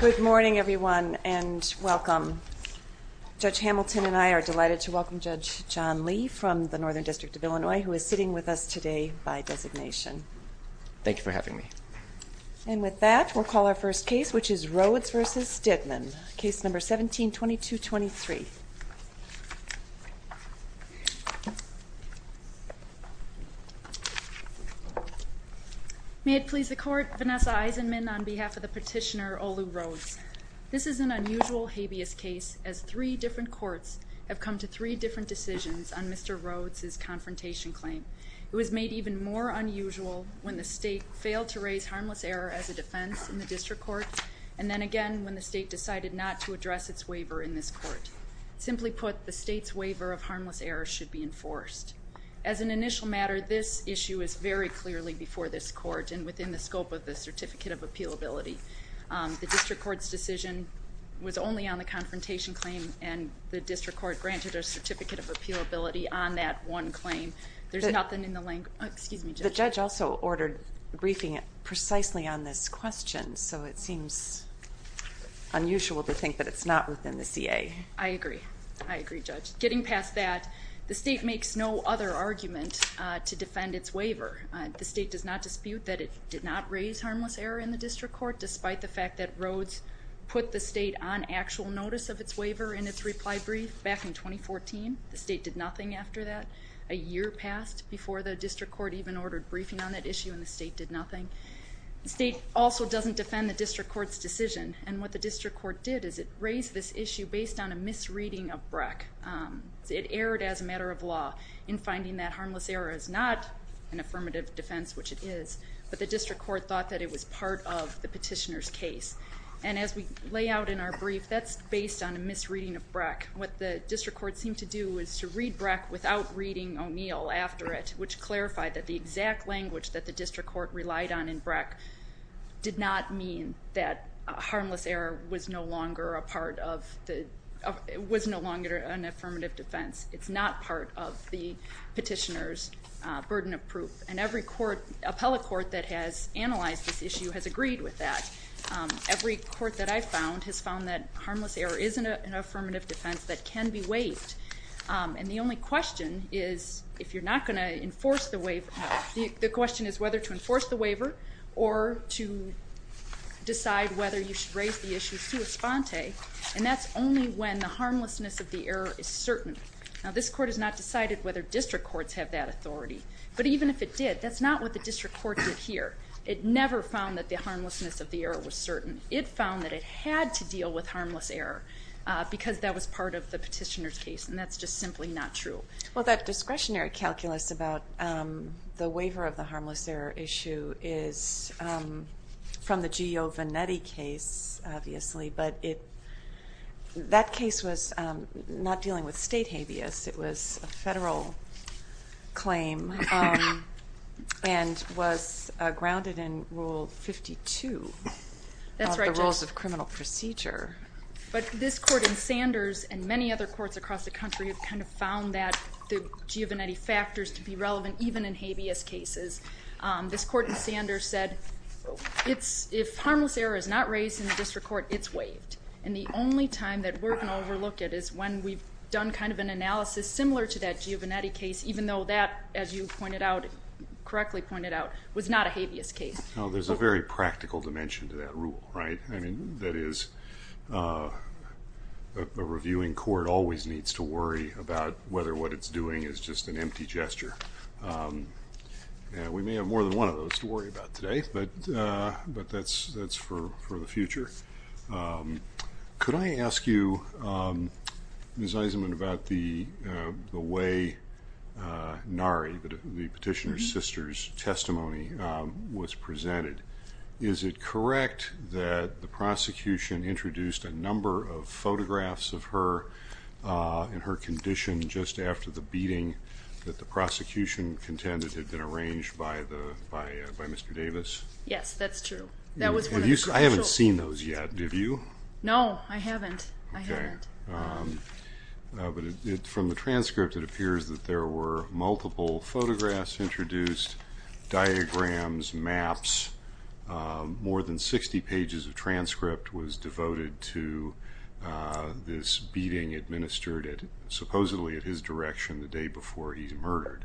Good morning everyone and welcome. Judge Hamilton and I are delighted to welcome Judge John Lee from the Northern District of Illinois who is sitting with us today by designation. Thank you for having me. And with that we'll call our first case which is Rhodes v. Dittmann, case number 17-2223. May it please the court, Vanessa Eisenman on behalf of the petitioner Olu Rhodes. This is an unusual habeas case as three different courts have come to three different decisions on Mr. Rhodes' confrontation claim. It was made even more unusual when the state failed to raise harmless error as a defense in the district court and then again when the state decided not to address its waiver in this court. Simply put, the state's waiver of harmless error should be enforced. As an initial matter, this issue is very clearly before this court and within the scope of the Certificate of Appealability. The district court's decision was only on the confrontation claim and the district court granted a Certificate of Appealability on that one claim. There's nothing in the language, excuse me Judge. Judge also ordered briefing precisely on this question so it seems unusual to think that it's not within the CA. I agree, I agree Judge. Getting past that, the state makes no other argument to defend its waiver. The state does not dispute that it did not raise harmless error in the district court despite the fact that Rhodes put the state on actual notice of its waiver in its reply brief back in 2014. The state did nothing after that. A year passed before the district court even ordered briefing on that issue and the state did nothing. The state also doesn't defend the district court's decision and what the district court did is it raised this issue based on a misreading of Breck. It erred as a matter of law in finding that harmless error is not an affirmative defense which it is, but the district court thought that it was part of the petitioner's case. And as we lay out in our brief, that's based on a misreading of Breck. What the district court seemed to do was to read Breck without reading O'Neill after it, which clarified that the exact language that the district court relied on in Breck did not mean that harmless error was no longer a part of the, was no longer an affirmative defense. It's not part of the petitioner's burden of proof. And every court, appellate court that has analyzed this issue has agreed with that. Every court that I've found has found that And the only question is, if you're not going to enforce the waiver, the question is whether to enforce the waiver or to decide whether you should raise the issue sua sponte, and that's only when the harmlessness of the error is certain. Now this court has not decided whether district courts have that authority, but even if it did, that's not what the district court did here. It never found that the harmlessness of the error was certain. It found that it not true. Well, that discretionary calculus about the waiver of the harmless error issue is from the Gio Venetti case, obviously, but it, that case was not dealing with state habeas. It was a federal claim and was grounded in Rule 52 of the Rules of Criminal Procedure. But this court in Sanders and many other courts across the country have kind of found that the Gio Venetti factors to be relevant even in habeas cases. This court in Sanders said, if harmless error is not raised in a district court, it's waived. And the only time that we're going to overlook it is when we've done kind of an analysis similar to that Gio Venetti case, even though that, as you pointed out, correctly pointed out, was not a habeas case. There's a very practical dimension to that rule, right? I mean, that is, a reviewing court always needs to worry about whether what it's doing is just an empty gesture. We may have more than one of those to worry about today, but that's for the future. Could I ask you, Ms. Eisenman, about the way NARI, the petitioner's sister's testimony, was presented Is it correct that the prosecution introduced a number of photographs of her in her condition just after the beating that the prosecution contended had been arranged by Mr. Davis? Yes, that's true. I haven't seen those yet, have you? No, I haven't. But from the transcript it appears that there were multiple photographs introduced, diagrams, maps, more than 60 pages of transcript was devoted to this beating administered supposedly at his direction the day before he was murdered.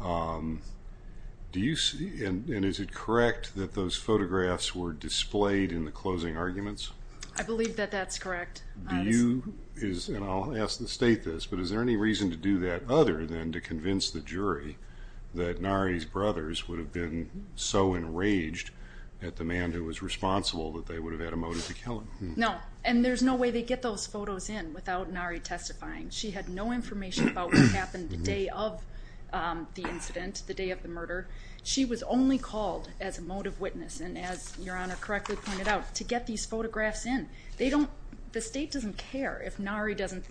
And is it correct that those photographs were displayed in the closing arguments? I believe that that's correct. Do you, and I'll ask to state this, but is there any reason to do that other than to convince the jury that NARI's brothers would have been so enraged at the man who was responsible that they would have had a motive to kill him? No, and there's no way they'd get those photos in without NARI testifying. She had no information about what happened the day of the incident, the day of the murder. She was only called as a motive witness, and as Your Honor correctly pointed out, to get these photos, the state doesn't care if NARI doesn't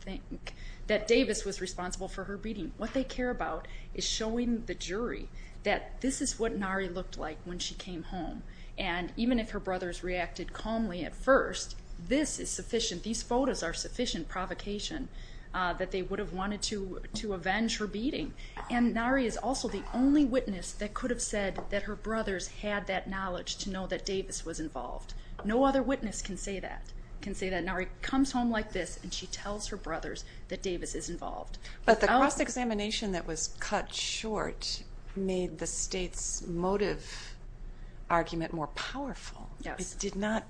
think that Davis was responsible for her beating. What they care about is showing the jury that this is what NARI looked like when she came home. And even if her brothers reacted calmly at first, this is sufficient, these photos are sufficient provocation that they would have wanted to avenge her beating. And NARI is also the only witness that could have said that her brothers had that knowledge to know that Davis was involved. No other witness can say that. NARI comes home like this and she tells her brothers that Davis is involved. But the cross-examination that was cut short made the state's motive argument more powerful. It did not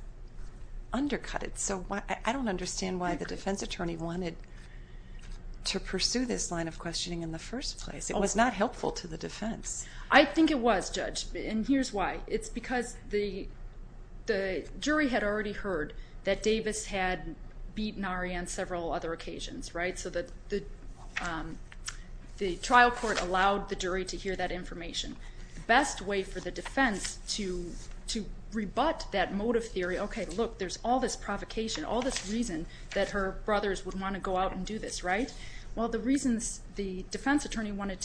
undercut it. So I don't understand why the defense attorney wanted to pursue this line of questioning in the first place. It was not helpful to the defense. I think it was, Judge, and here's why. It's because the jury had already heard that Davis had beaten NARI on several other occasions, right? So the trial court allowed the jury to hear that information. The best way for the defense to rebut that motive theory, okay, look, there's all this provocation, all this reason that her brothers would want to go out and do this, right? Well, the reasons the defense attorney wanted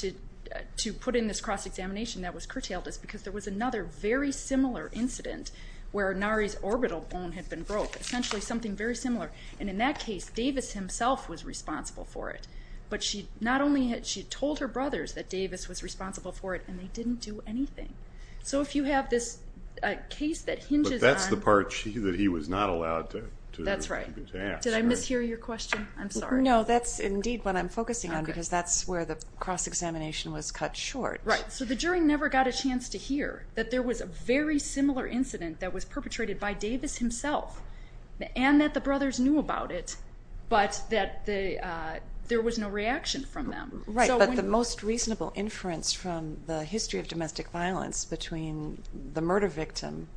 to put in this cross-examination that was curtailed is because there was another very similar incident where NARI's orbital bone had been broke, essentially something very similar. And in that case, Davis himself was responsible for it. But she not only had she told her brothers that Davis was responsible for it and they didn't do anything. So if you have this case that hinges on... But that's the part that he was not allowed to ask. That's right. Did I mishear your question? I'm sorry. No, that's indeed what I'm focusing on because that's where the cross-examination was cut short. So the jury never got a chance to hear that there was a very similar incident that was perpetrated by Davis himself and that the brothers knew about it, but that there was no reaction from them. Right. But the most reasonable inference from the history of domestic violence between the murder victim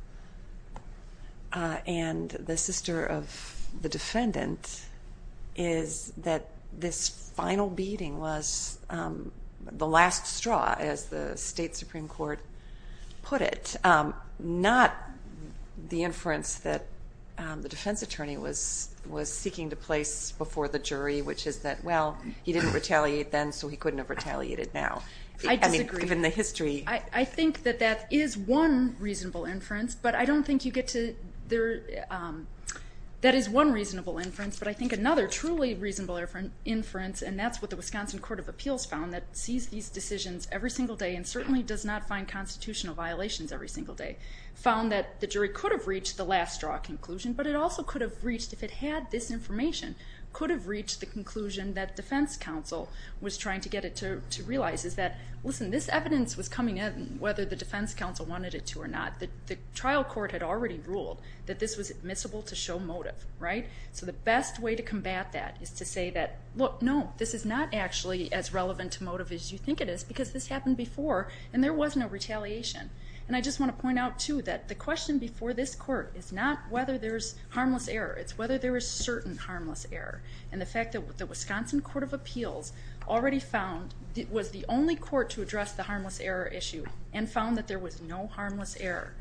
and the sister of the defendant is that this final beating was the last straw, as the state Supreme Court put it, not the inference that the defense attorney was seeking to place before the jury, which is that, well, he didn't retaliate then, so he couldn't have retaliated now. I disagree. I mean, given the history. I think that that is one reasonable inference, but I don't think you get to... That is one reasonable inference, but I think another truly reasonable inference, and that's what the Wisconsin Court of Appeals found that sees these decisions every single day and certainly does not find constitutional violations every single day, found that the jury could have reached the last straw conclusion, but it also could have reached, if it had this information, could have reached the conclusion that defense counsel was trying to get it to realize is that, listen, this evidence was coming in whether the defense counsel wanted it to or not. The trial court had already ruled that this was admissible to show motive, right? So the best way to combat that is to say that, look, no, this is not actually as relevant to motive as you think it is because this happened before and there was no retaliation. And I just want to point out, too, that the question before this court is not whether there's harmless error. It's whether there is certain harmless error. And the fact that the Wisconsin Court of Appeals already found it was the only court to address the harmless error issue and found that there was no harmless error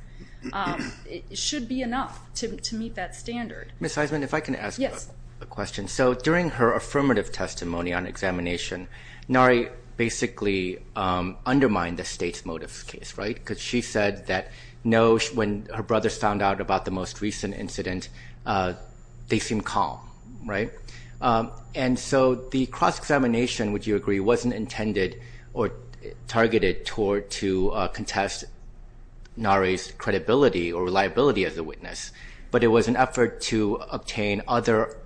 should be enough to meet that standard. Ms. Heisman, if I can ask a question. So during her affirmative testimony on examination, Nari basically undermined the state's motive case, right? Because she said that no, when her brothers found out about the most recent incident, they seemed calm, right? And so the cross-examination, would you agree, wasn't intended or targeted toward to contest Nari's credibility or reliability as a witness, but it was an effort to obtain other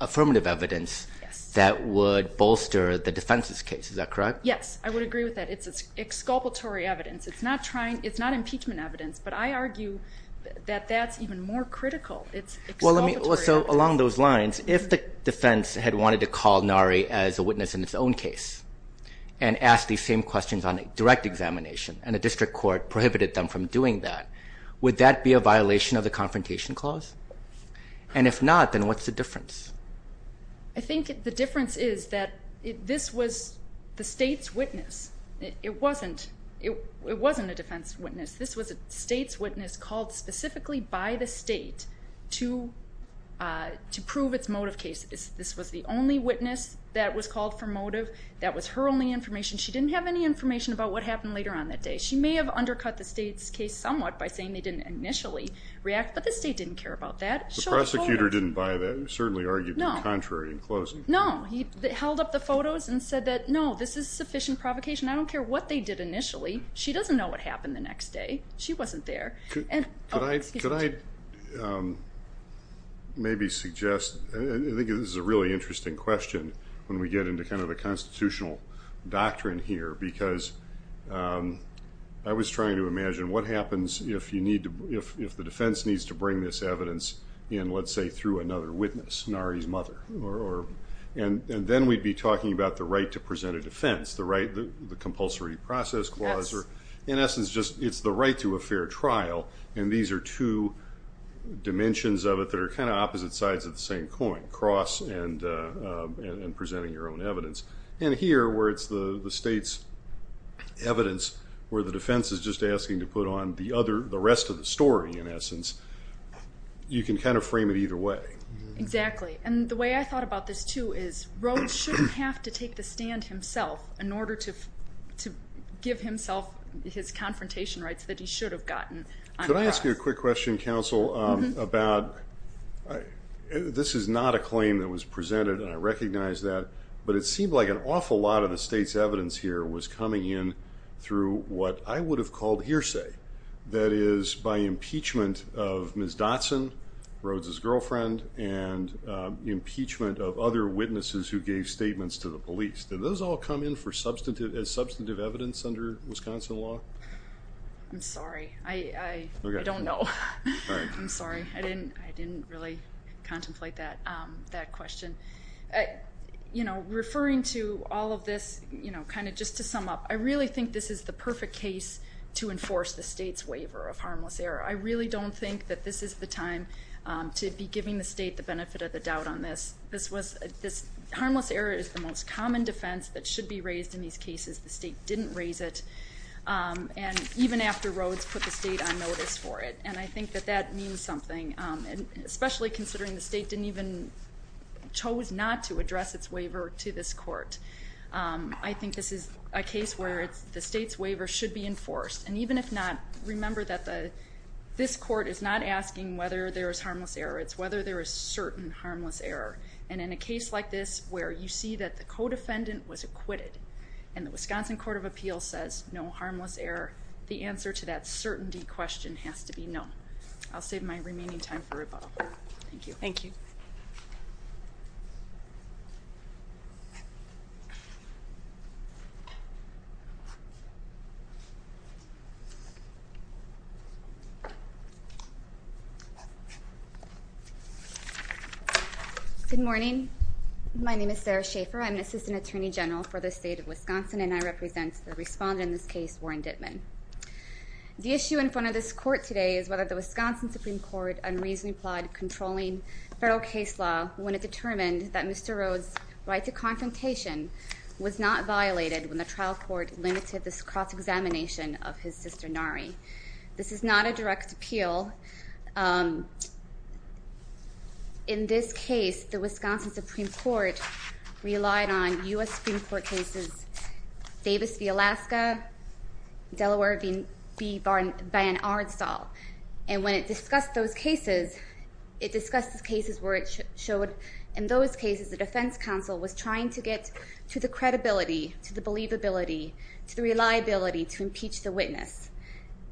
affirmative evidence that would bolster the defense's case. Is that correct? Yes, I would agree with that. It's exculpatory evidence. It's not impeachment evidence, but I argue that that's even more critical. It's exculpatory evidence. So along those lines, if the defense had wanted to call Nari as a witness in its own case and ask the same questions on a direct examination and a district court prohibited them from doing that, would that be a violation of the Confrontation Clause? And if not, then what's the difference? I think the difference is that this was the state's witness. It wasn't a defense witness. This was a state's witness called specifically by the state to prove its motive case. This was the only witness that was called for motive. That was her only information. She didn't have any information about what happened later on that day. She may have undercut the state's case somewhat by saying they didn't initially react, but the state didn't care about that. The prosecutor didn't buy that. He certainly argued the contrary in closing. No, he held up the photos and said that, no, this is sufficient provocation. I don't care what they did initially. She doesn't know what happened the next day. She wasn't there. Could I maybe suggest, I think this is a really interesting question when we get into kind of the constitutional doctrine here, because I was trying to imagine what happens if the defense needs to bring this evidence in, let's say, through another witness, Nari's mother. Then we'd be talking about the right to present a defense, the compulsory process clause. In essence, it's the right to a fair trial. These are two dimensions of it that are kind of opposite sides of the same coin, cross and presenting your own evidence. Here, where it's the state's evidence where the defense is just asking to put on the rest of the story, in essence, you can kind of frame it either way. Exactly. The way I thought about this, too, is Rhodes shouldn't have to take the stand himself in order to give himself his confrontation rights that he should have gotten. Could I ask you a quick question, counsel, about, this is not a claim that was presented, and I recognize that, but it seemed like an awful lot of the state's evidence here was coming in through what I would have called hearsay. That is, by impeachment of Ms. Dotson, Rhodes' girlfriend, and impeachment of other witnesses who gave statements to the police. Did those all come in as substantive evidence under Wisconsin law? I'm sorry. I don't know. I'm sorry. I didn't really contemplate that question. Referring to all of this, just to sum up, I really think this is the perfect case to enforce the state's waiver at this time, to be giving the state the benefit of the doubt on this. This harmless error is the most common defense that should be raised in these cases. The state didn't raise it, and even after Rhodes put the state on notice for it, and I think that that means something, especially considering the state didn't even, chose not to address its waiver to this court. I think this is a case where the state's waiver should be enforced, and even if not, remember that this court is not asking whether there is harmless error. It's whether there is certain harmless error, and in a case like this, where you see that the co-defendant was acquitted, and the Wisconsin Court of Appeals says no harmless error, the answer to that certainty question has to be no. I'll save my remaining time for rebuttal. Thank you. Thank you. Good morning. My name is Sarah Schaefer. I'm an Assistant Attorney General for the state of Wisconsin, and I represent the respondent in this case, Warren Dittman. The issue in front of this court today is whether the Wisconsin Supreme Court unreasonably applied controlling federal case law when it determined that Mr. Rhodes' right to confrontation was not violated when the trial court limited this cross-examination of his sister, Nari. This is not a direct appeal. In this case, the Wisconsin Supreme Court relied on U.S. Supreme Court cases Davis v. Alaska, Delaware v. Van Arnstall, and when it discussed those cases, it discussed the cases where it showed in those cases the defense counsel was trying to get to the credibility, to the believability, to the reliability to impeach the witness.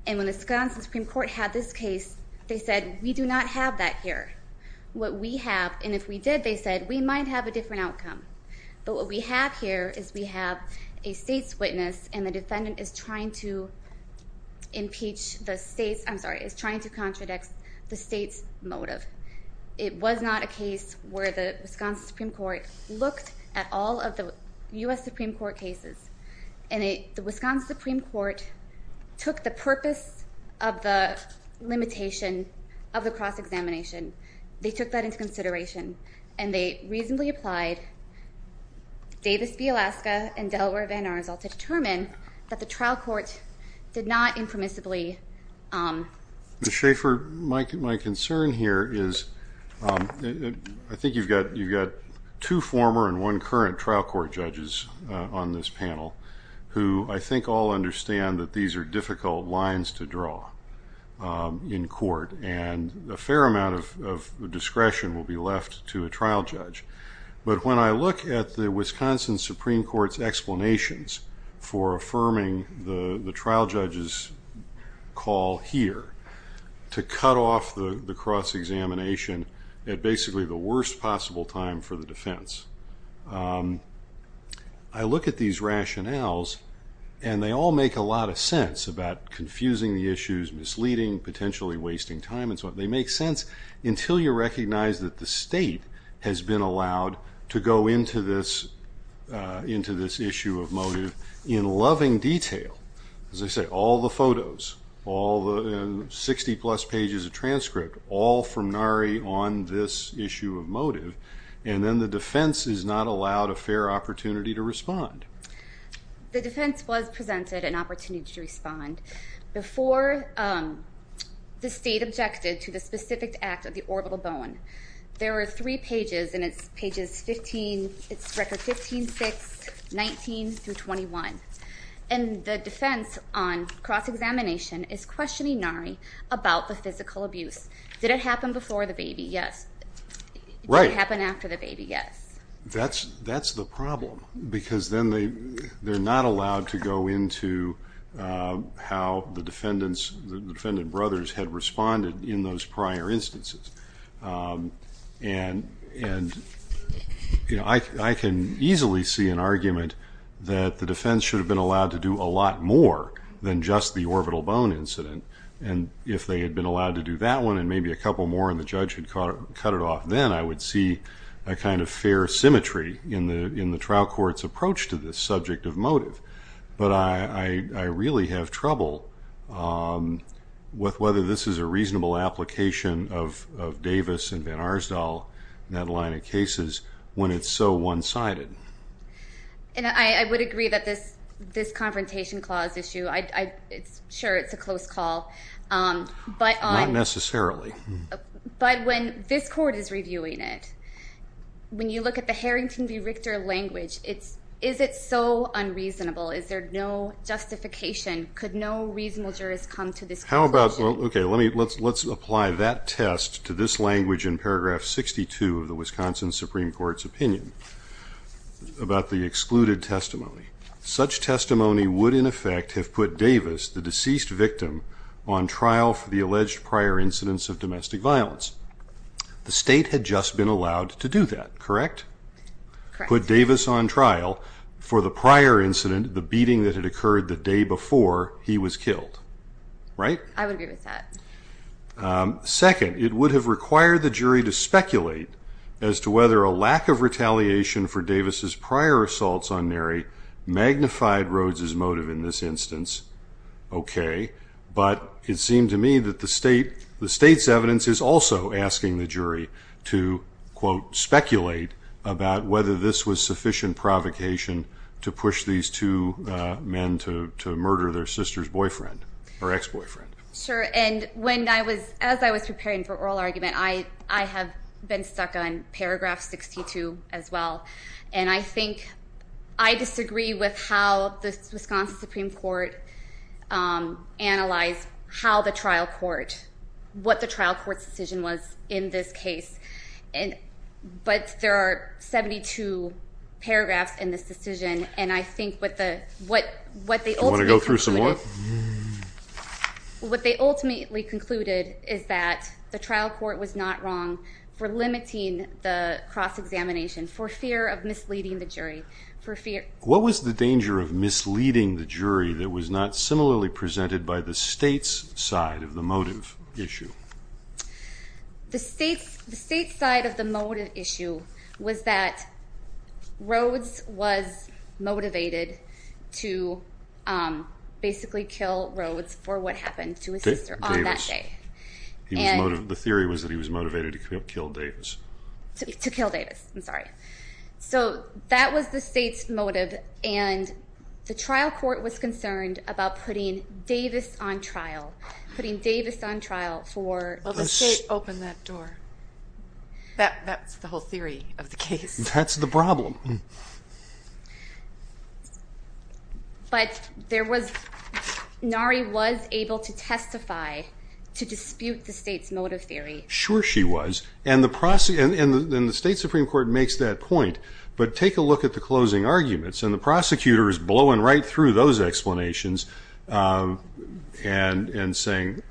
And when the Wisconsin Supreme Court had this case, they said, we do not have that here. What we have, and if we did, they said, we might have a different outcome. But what we have here is we have a state's witness, and the defendant is trying to impeach the state's, I'm sorry, is trying to contradict the state's motive. It was not a case where the Wisconsin Supreme Court looked at all of the U.S. Supreme Court cases, and the Wisconsin Supreme Court took the purpose of the limitation of the cross-examination. They took that into consideration, and they reasonably applied Davis v. Alaska and Delaware v. Van Arnstall to determine that the trial court did not impermissibly... Ms. Schaefer, my concern here is, I think you've got two former and one former, and one current trial court judges on this panel, who I think all understand that these are difficult lines to draw in court, and a fair amount of discretion will be left to a trial judge. But when I look at the Wisconsin Supreme Court's explanations for affirming the trial judge's call here to cut off the cross-examination at basically the worst possible time for the defense, I look at these rationales, and they all make a lot of sense about confusing the issues, misleading, potentially wasting time, and so on. They make sense until you recognize that the state has been allowed to go into this issue of motive in loving detail. As I say, all the photos, all the 60-plus pages of transcript, all from Nari on this issue of motive, and then the defense is not allowed a fair opportunity to respond. The defense was presented an opportunity to respond before the state objected to the specific act of the orbital bone. There are three pages, and it's pages 15, it's records 15-6, 19-21. And the defense on cross-examination is questioning Nari about the physical abuse. Did it happen before the baby? Yes. Right. Did it happen after the baby? Yes. That's the problem, because then they're not allowed to go into how the defendant brothers had responded in those prior instances. And I can easily see an argument that the defense should have been allowed to do a lot more than just the orbital bone incident. And if they had been allowed to do that one and maybe a couple more and the judge had cut it off then, I would see a kind of fair symmetry in the trial court's approach to this subject of motive. But I really have trouble with whether this is a reasonable application of Davis and Van Arsdale, that line of cases, when it's so one-sided. And I would agree that this confrontation clause issue, sure, it's a close call. Not necessarily. But when this court is reviewing it, when you look at the Harrington v. Richter language, is it so unreasonable? Is there no justification? Could no reasonable jurist come to this conclusion? Let's apply that test to this language in paragraph 62 of the Wisconsin Supreme Court's opinion about the fact that Davis, the deceased victim, on trial for the alleged prior incidents of domestic violence. The state had just been allowed to do that, correct? Correct. Put Davis on trial for the prior incident, the beating that had occurred the day before he was killed, right? I would agree with that. Second, it would have required the jury to speculate as to whether a lack of retaliation for Davis' prior assaults on Neri magnified Rhodes' motive in this instance. Okay. But it seemed to me that the state's evidence is also asking the jury to, quote, speculate about whether this was sufficient provocation to push these two men to murder their sister's boyfriend, or ex-boyfriend. Sure. And when I was, as I was preparing for oral argument, I have been stuck on paragraph 62 as well. And I think I disagree with how the Wisconsin Supreme Court analyzed how the trial court, what the trial court's decision was in this case. But there are 72 paragraphs in this decision, and I think what the, what they ultimately concluded... Do you want to go through some more? What they ultimately concluded is that the trial court was not wrong for fear of misleading the jury. What was the danger of misleading the jury that was not similarly presented by the state's side of the motive issue? The state's side of the motive issue was that Rhodes was motivated to basically kill Rhodes for what happened to his sister on that day. The theory was that he was motivated to kill Davis. To kill him. So that was the state's motive, and the trial court was concerned about putting Davis on trial. Putting Davis on trial for... Well, the state opened that door. That's the whole theory of the case. That's the problem. But there was, Nari was able to testify to dispute the state's motive theory. Sure she was. And the state Supreme Court makes that point. But take a look at the closing arguments, and the prosecutor is blowing right through those explanations and saying,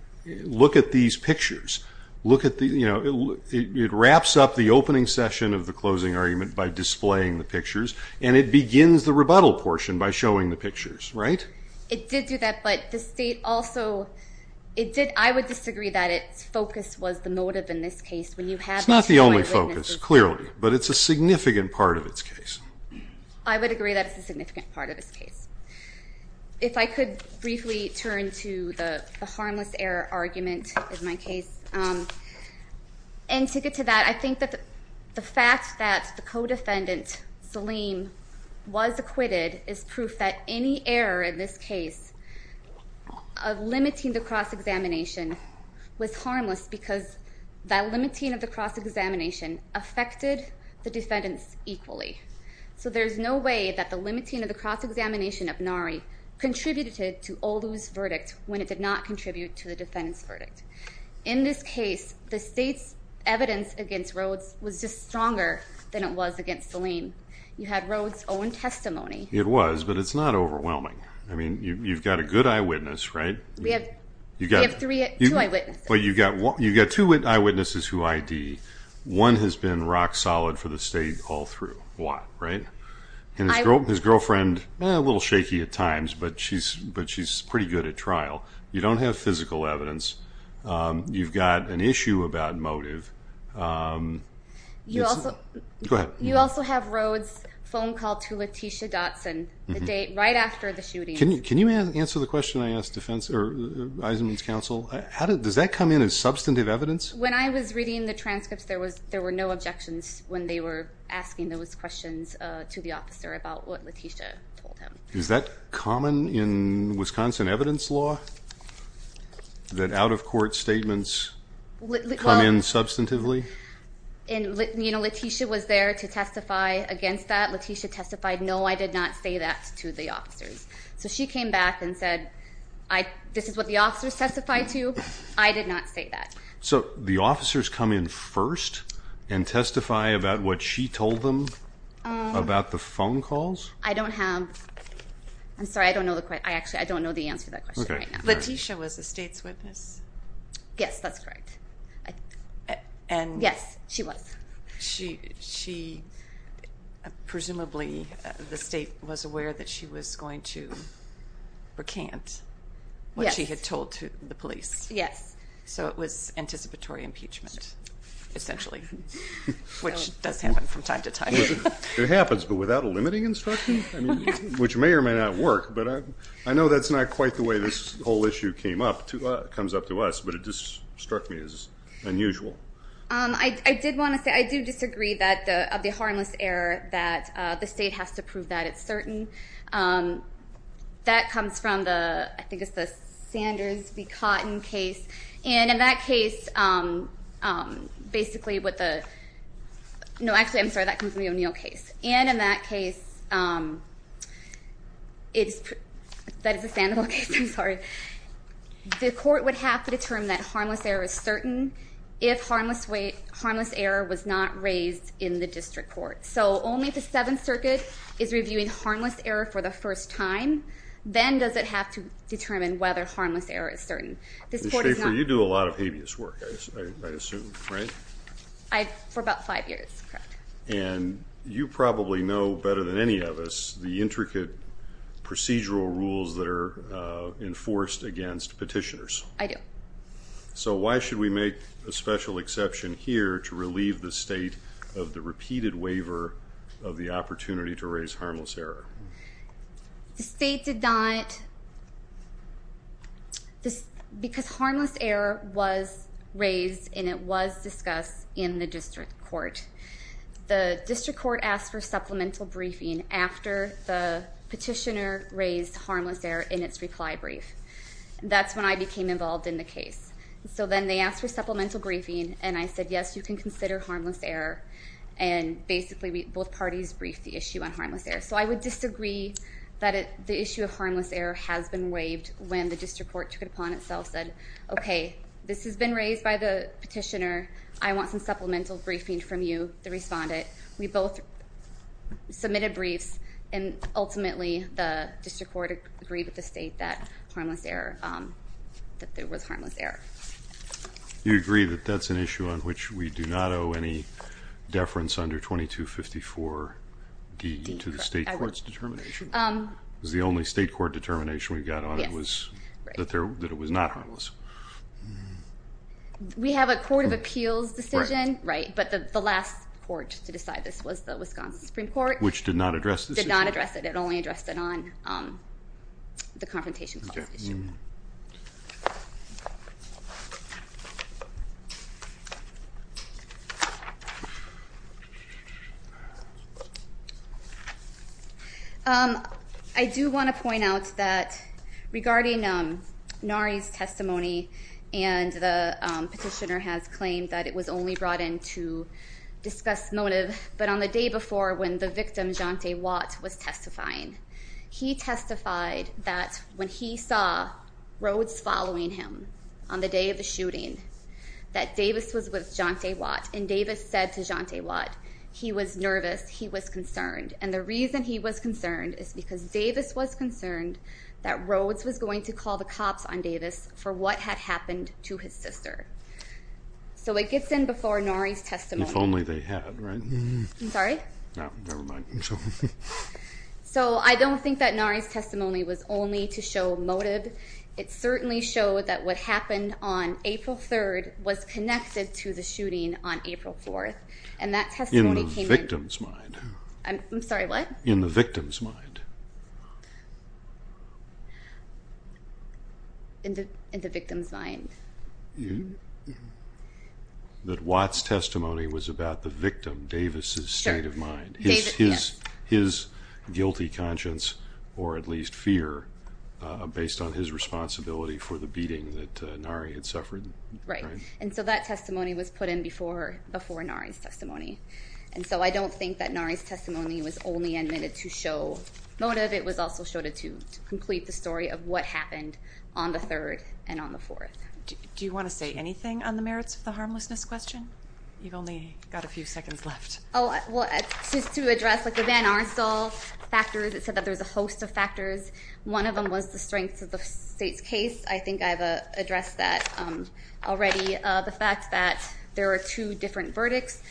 look at these pictures. It wraps up the opening session of the closing argument by displaying the pictures, and it begins the rebuttal portion by showing the pictures, right? It did do that, but the state also... I would disagree that its focus was the motive in this case. It's not the only focus, clearly. But it's a significant part of its case. I would agree that it's a significant part of its case. If I could briefly turn to the harmless error argument in my case. And to get to that, I think that the fact that the co-defendant, Salim, was acquitted is proof that any error in this case of limiting the cross-examination was harmless because that limiting of the cross-examination affected the defendants equally. So there's no way that the limiting of the cross-examination of Nari contributed to Olu's verdict when it did not contribute to the defendants' verdict. In this case, the state's evidence against Rhodes was just stronger than it was against Salim. You had Rhodes' own testimony. It was, but it's not overwhelming. I mean, you've got a good eyewitness, right? We have two eyewitnesses. You've got two eyewitnesses who ID. One has been rock-solid for the state all through. Why? Right? And his girlfriend, a little shaky at times, but she's pretty good at trial. You don't have physical evidence. You've got an issue about motive. Go ahead. You also have Rhodes' phone call to Letitia Dotson, the date right after the shooting. Can you answer the question I asked Eisenman's counsel? Does that come in as substantive evidence? When I was reading the transcripts, there were no objections when they were asking those questions to the officer about what Letitia told him. Is that common in Wisconsin evidence law, that out-of-court statements come in substantively? Letitia was there to testify against that. Letitia testified, no, I did not say that to the officers. So she came back and said, this is what the officers testify to. I did not say that. So the officers come in first and testify about what she told them about the phone calls? I don't have, I'm sorry, I don't know the question. I actually, I don't know the answer to that question right now. Letitia was the state's witness? Yes, that's correct. Yes, she was. Presumably, the state was aware that she was going to recant what she had told the police? Yes. So it was anticipatory impeachment, essentially, which does happen from time to time. It happens, but without a limiting instruction, which may or may not work, but I know that's not quite the way this whole issue came up, comes up to us, but it just struck me as unusual. I did want to say, I do disagree that of the harmless error that the state has to prove that it's certain. That comes from the, I think it's the Sanders v. Cotton case. And in that case, basically what the, no, actually, I'm sorry, that comes from the O'Neill case. And in that case, that is the Sandoval case, I'm sorry, the court would have to determine that harmless error is certain if harmless error was not raised in the district court. So only if the Seventh Circuit is reviewing harmless error for the first time, then does it have to determine whether harmless error is certain. Ms. Schaefer, you do a lot of habeas work, I assume, right? For about five years, correct. And you probably know better than any of us the intricate procedural rules that are enforced against petitioners. I do. So why should we make a special exception here to relieve the state of the repeated waiver of the opportunity to raise harmless error? The state did not, because harmless error was raised and it was discussed in the district court. The district court asked for supplemental briefing after the petitioner raised harmless error in its reply brief. That's when I became involved in the case. So then they asked for supplemental briefing, and I said, yes, you can consider harmless error. And basically, both parties briefed the issue on harmless error. So I would disagree that the issue of harmless error has been waived when the district court took it upon itself, said, okay, this has been raised by the petitioner, I want some supplemental briefing from you, the respondent. But we both submitted briefs, and ultimately, the district court agreed with the state that there was harmless error. You agree that that's an issue on which we do not owe any deference under 2254D to the state court's determination? It was the only state court determination we got on that it was not harmless. We have a court of appeals decision, but the last court to decide this was the Wisconsin Supreme Court. Which did not address this issue? Did not address it. It only addressed it on the confrontation clause issue. I do want to point out that regarding Nari's testimony, and the petitioner has claimed that it was only brought in to discuss motive, but on the day before when the victim, Jante Watt, was testifying. He testified that when he saw Rhodes following him on the day of the shooting, that Davis was with Jante Watt, and Davis said to Jante Watt, he was nervous, he was concerned. And the reason he was concerned is because Davis was concerned that Rhodes was going to call the cops on Davis for what had happened to his sister. So it gets in before Nari's testimony. If only they had, right? I'm sorry? No, never mind. So I don't think that Nari's testimony was only to show motive. It certainly showed that what happened on April 3rd was connected to the shooting on April 4th. In the victim's mind. I'm sorry, what? In the victim's mind. In the victim's mind. His guilty conscience, or at least fear, based on his responsibility for the beating that Nari had suffered. Right. And so that testimony was put in before Nari's testimony. And so I don't think that Nari's testimony was only admitted to show motive. It was also showed to complete the story of what happened on the 3rd and on the 4th. Do you want to say anything on the merits of the harmlessness question? You've only got a few seconds left. Oh, well, just to address the Van Arnstall factors. It said that there's a host of factors. One of them was the strength of the state's case. I think I've addressed that already. The fact that there are two different verdicts.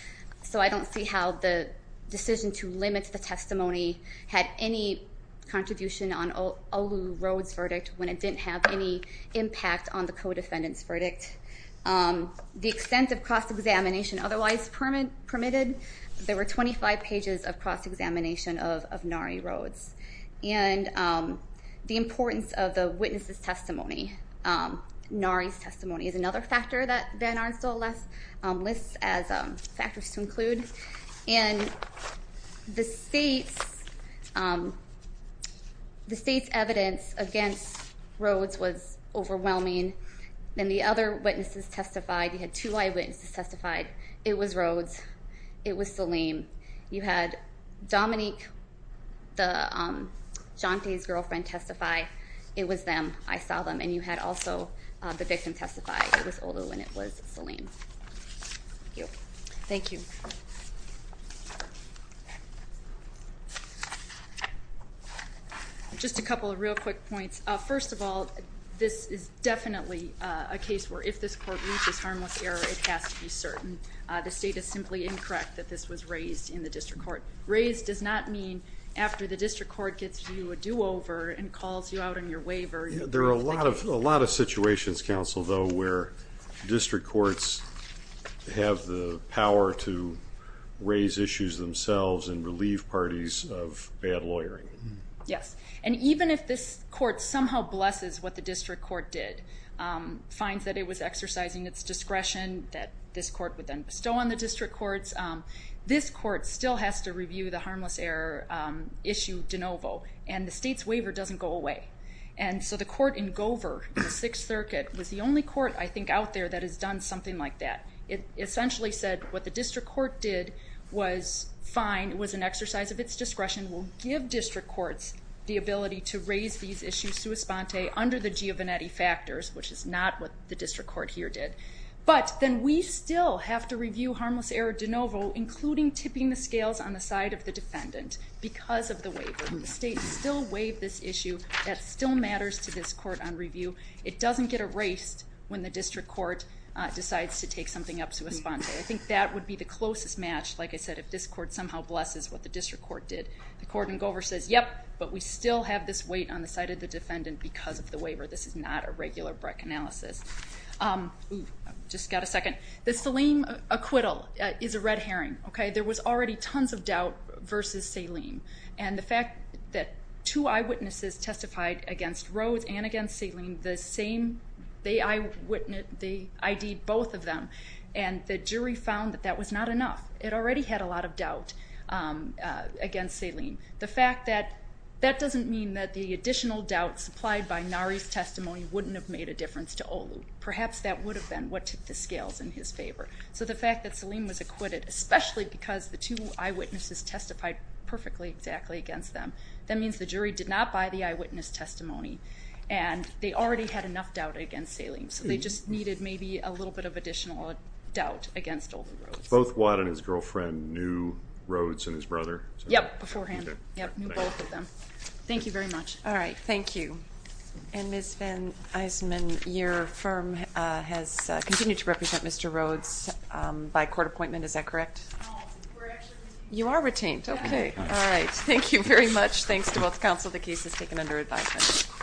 So I don't see how the decision to limit the testimony had any contribution on Olu Road's verdict when it didn't have any impact on the co-defendant's verdict. The extent of cross-examination otherwise permitted. There were 25 pages of cross-examination of Nari Road's. And the importance of the witness's testimony. Nari's testimony is another factor that Van Arnstall lists as factors to include. And the state's evidence against Road's was overwhelming. Then the other witnesses testified. You had two eyewitnesses testify. It was Road's. It was Salim. You had Dominique, the Jante's girlfriend, testify. It was them. I saw them. And you had also the victim testify. It was Olu and it was Salim. Thank you. Thank you. Just a couple of real quick points. First of all, this is definitely a case where if this court reaches harmless error, it has to be certain. The state is simply incorrect that this was raised in the district court. Raised does not mean after the district court gets you a do-over and calls you out on your waiver. There are a lot of situations, counsel, though, where district courts have the power to raise issues themselves and relieve parties of bad lawyering. Yes. And even if this court somehow blesses what the district court did, finds that it was exercising its discretion, that this court would then bestow on the district courts, this court still has to review the harmless error issue de novo, and the state's waiver doesn't go away. And so the court in Gover, the Sixth Circuit, was the only court I think out there that has done something like that. It essentially said what the district court did was fine. It was an exercise of its discretion. The discretion will give district courts the ability to raise these issues sua sponte under the Giovannetti factors, which is not what the district court here did. But then we still have to review harmless error de novo, including tipping the scales on the side of the defendant, because of the waiver. The state still waived this issue. That still matters to this court on review. It doesn't get erased when the district court decides to take something up sua sponte. I think that would be the closest match, like I said, if this court somehow blesses what the district court did. The court in Gover says, yep, but we still have this weight on the side of the defendant because of the waiver. This is not a regular Breck analysis. Just got a second. The Saleem acquittal is a red herring. There was already tons of doubt versus Saleem. And the fact that two eyewitnesses testified against Rhodes and against Saleem, the same, they ID'd both of them, and the jury found that that was not enough. It already had a lot of doubt against Saleem. The fact that that doesn't mean that the additional doubt supplied by Nari's testimony wouldn't have made a difference to Olu. Perhaps that would have been what tipped the scales in his favor. So the fact that Saleem was acquitted, especially because the two eyewitnesses testified perfectly exactly against them, that means the jury did not buy the eyewitness testimony, and they already had enough doubt against Saleem. So they just needed maybe a little bit of additional doubt against Olu and Saleem. Both Watt and his girlfriend knew Rhodes and his brother? Yep, beforehand. Yep, knew both of them. Thank you very much. All right. Thank you. And Ms. Van Iseman, your firm has continued to represent Mr. Rhodes by court appointment. Is that correct? No, we're actually retained. You are retained. Thanks to both counsel. The case is taken under advisement. Thank you. Thank you. Thank you. Thank you. Thank you. Thank you.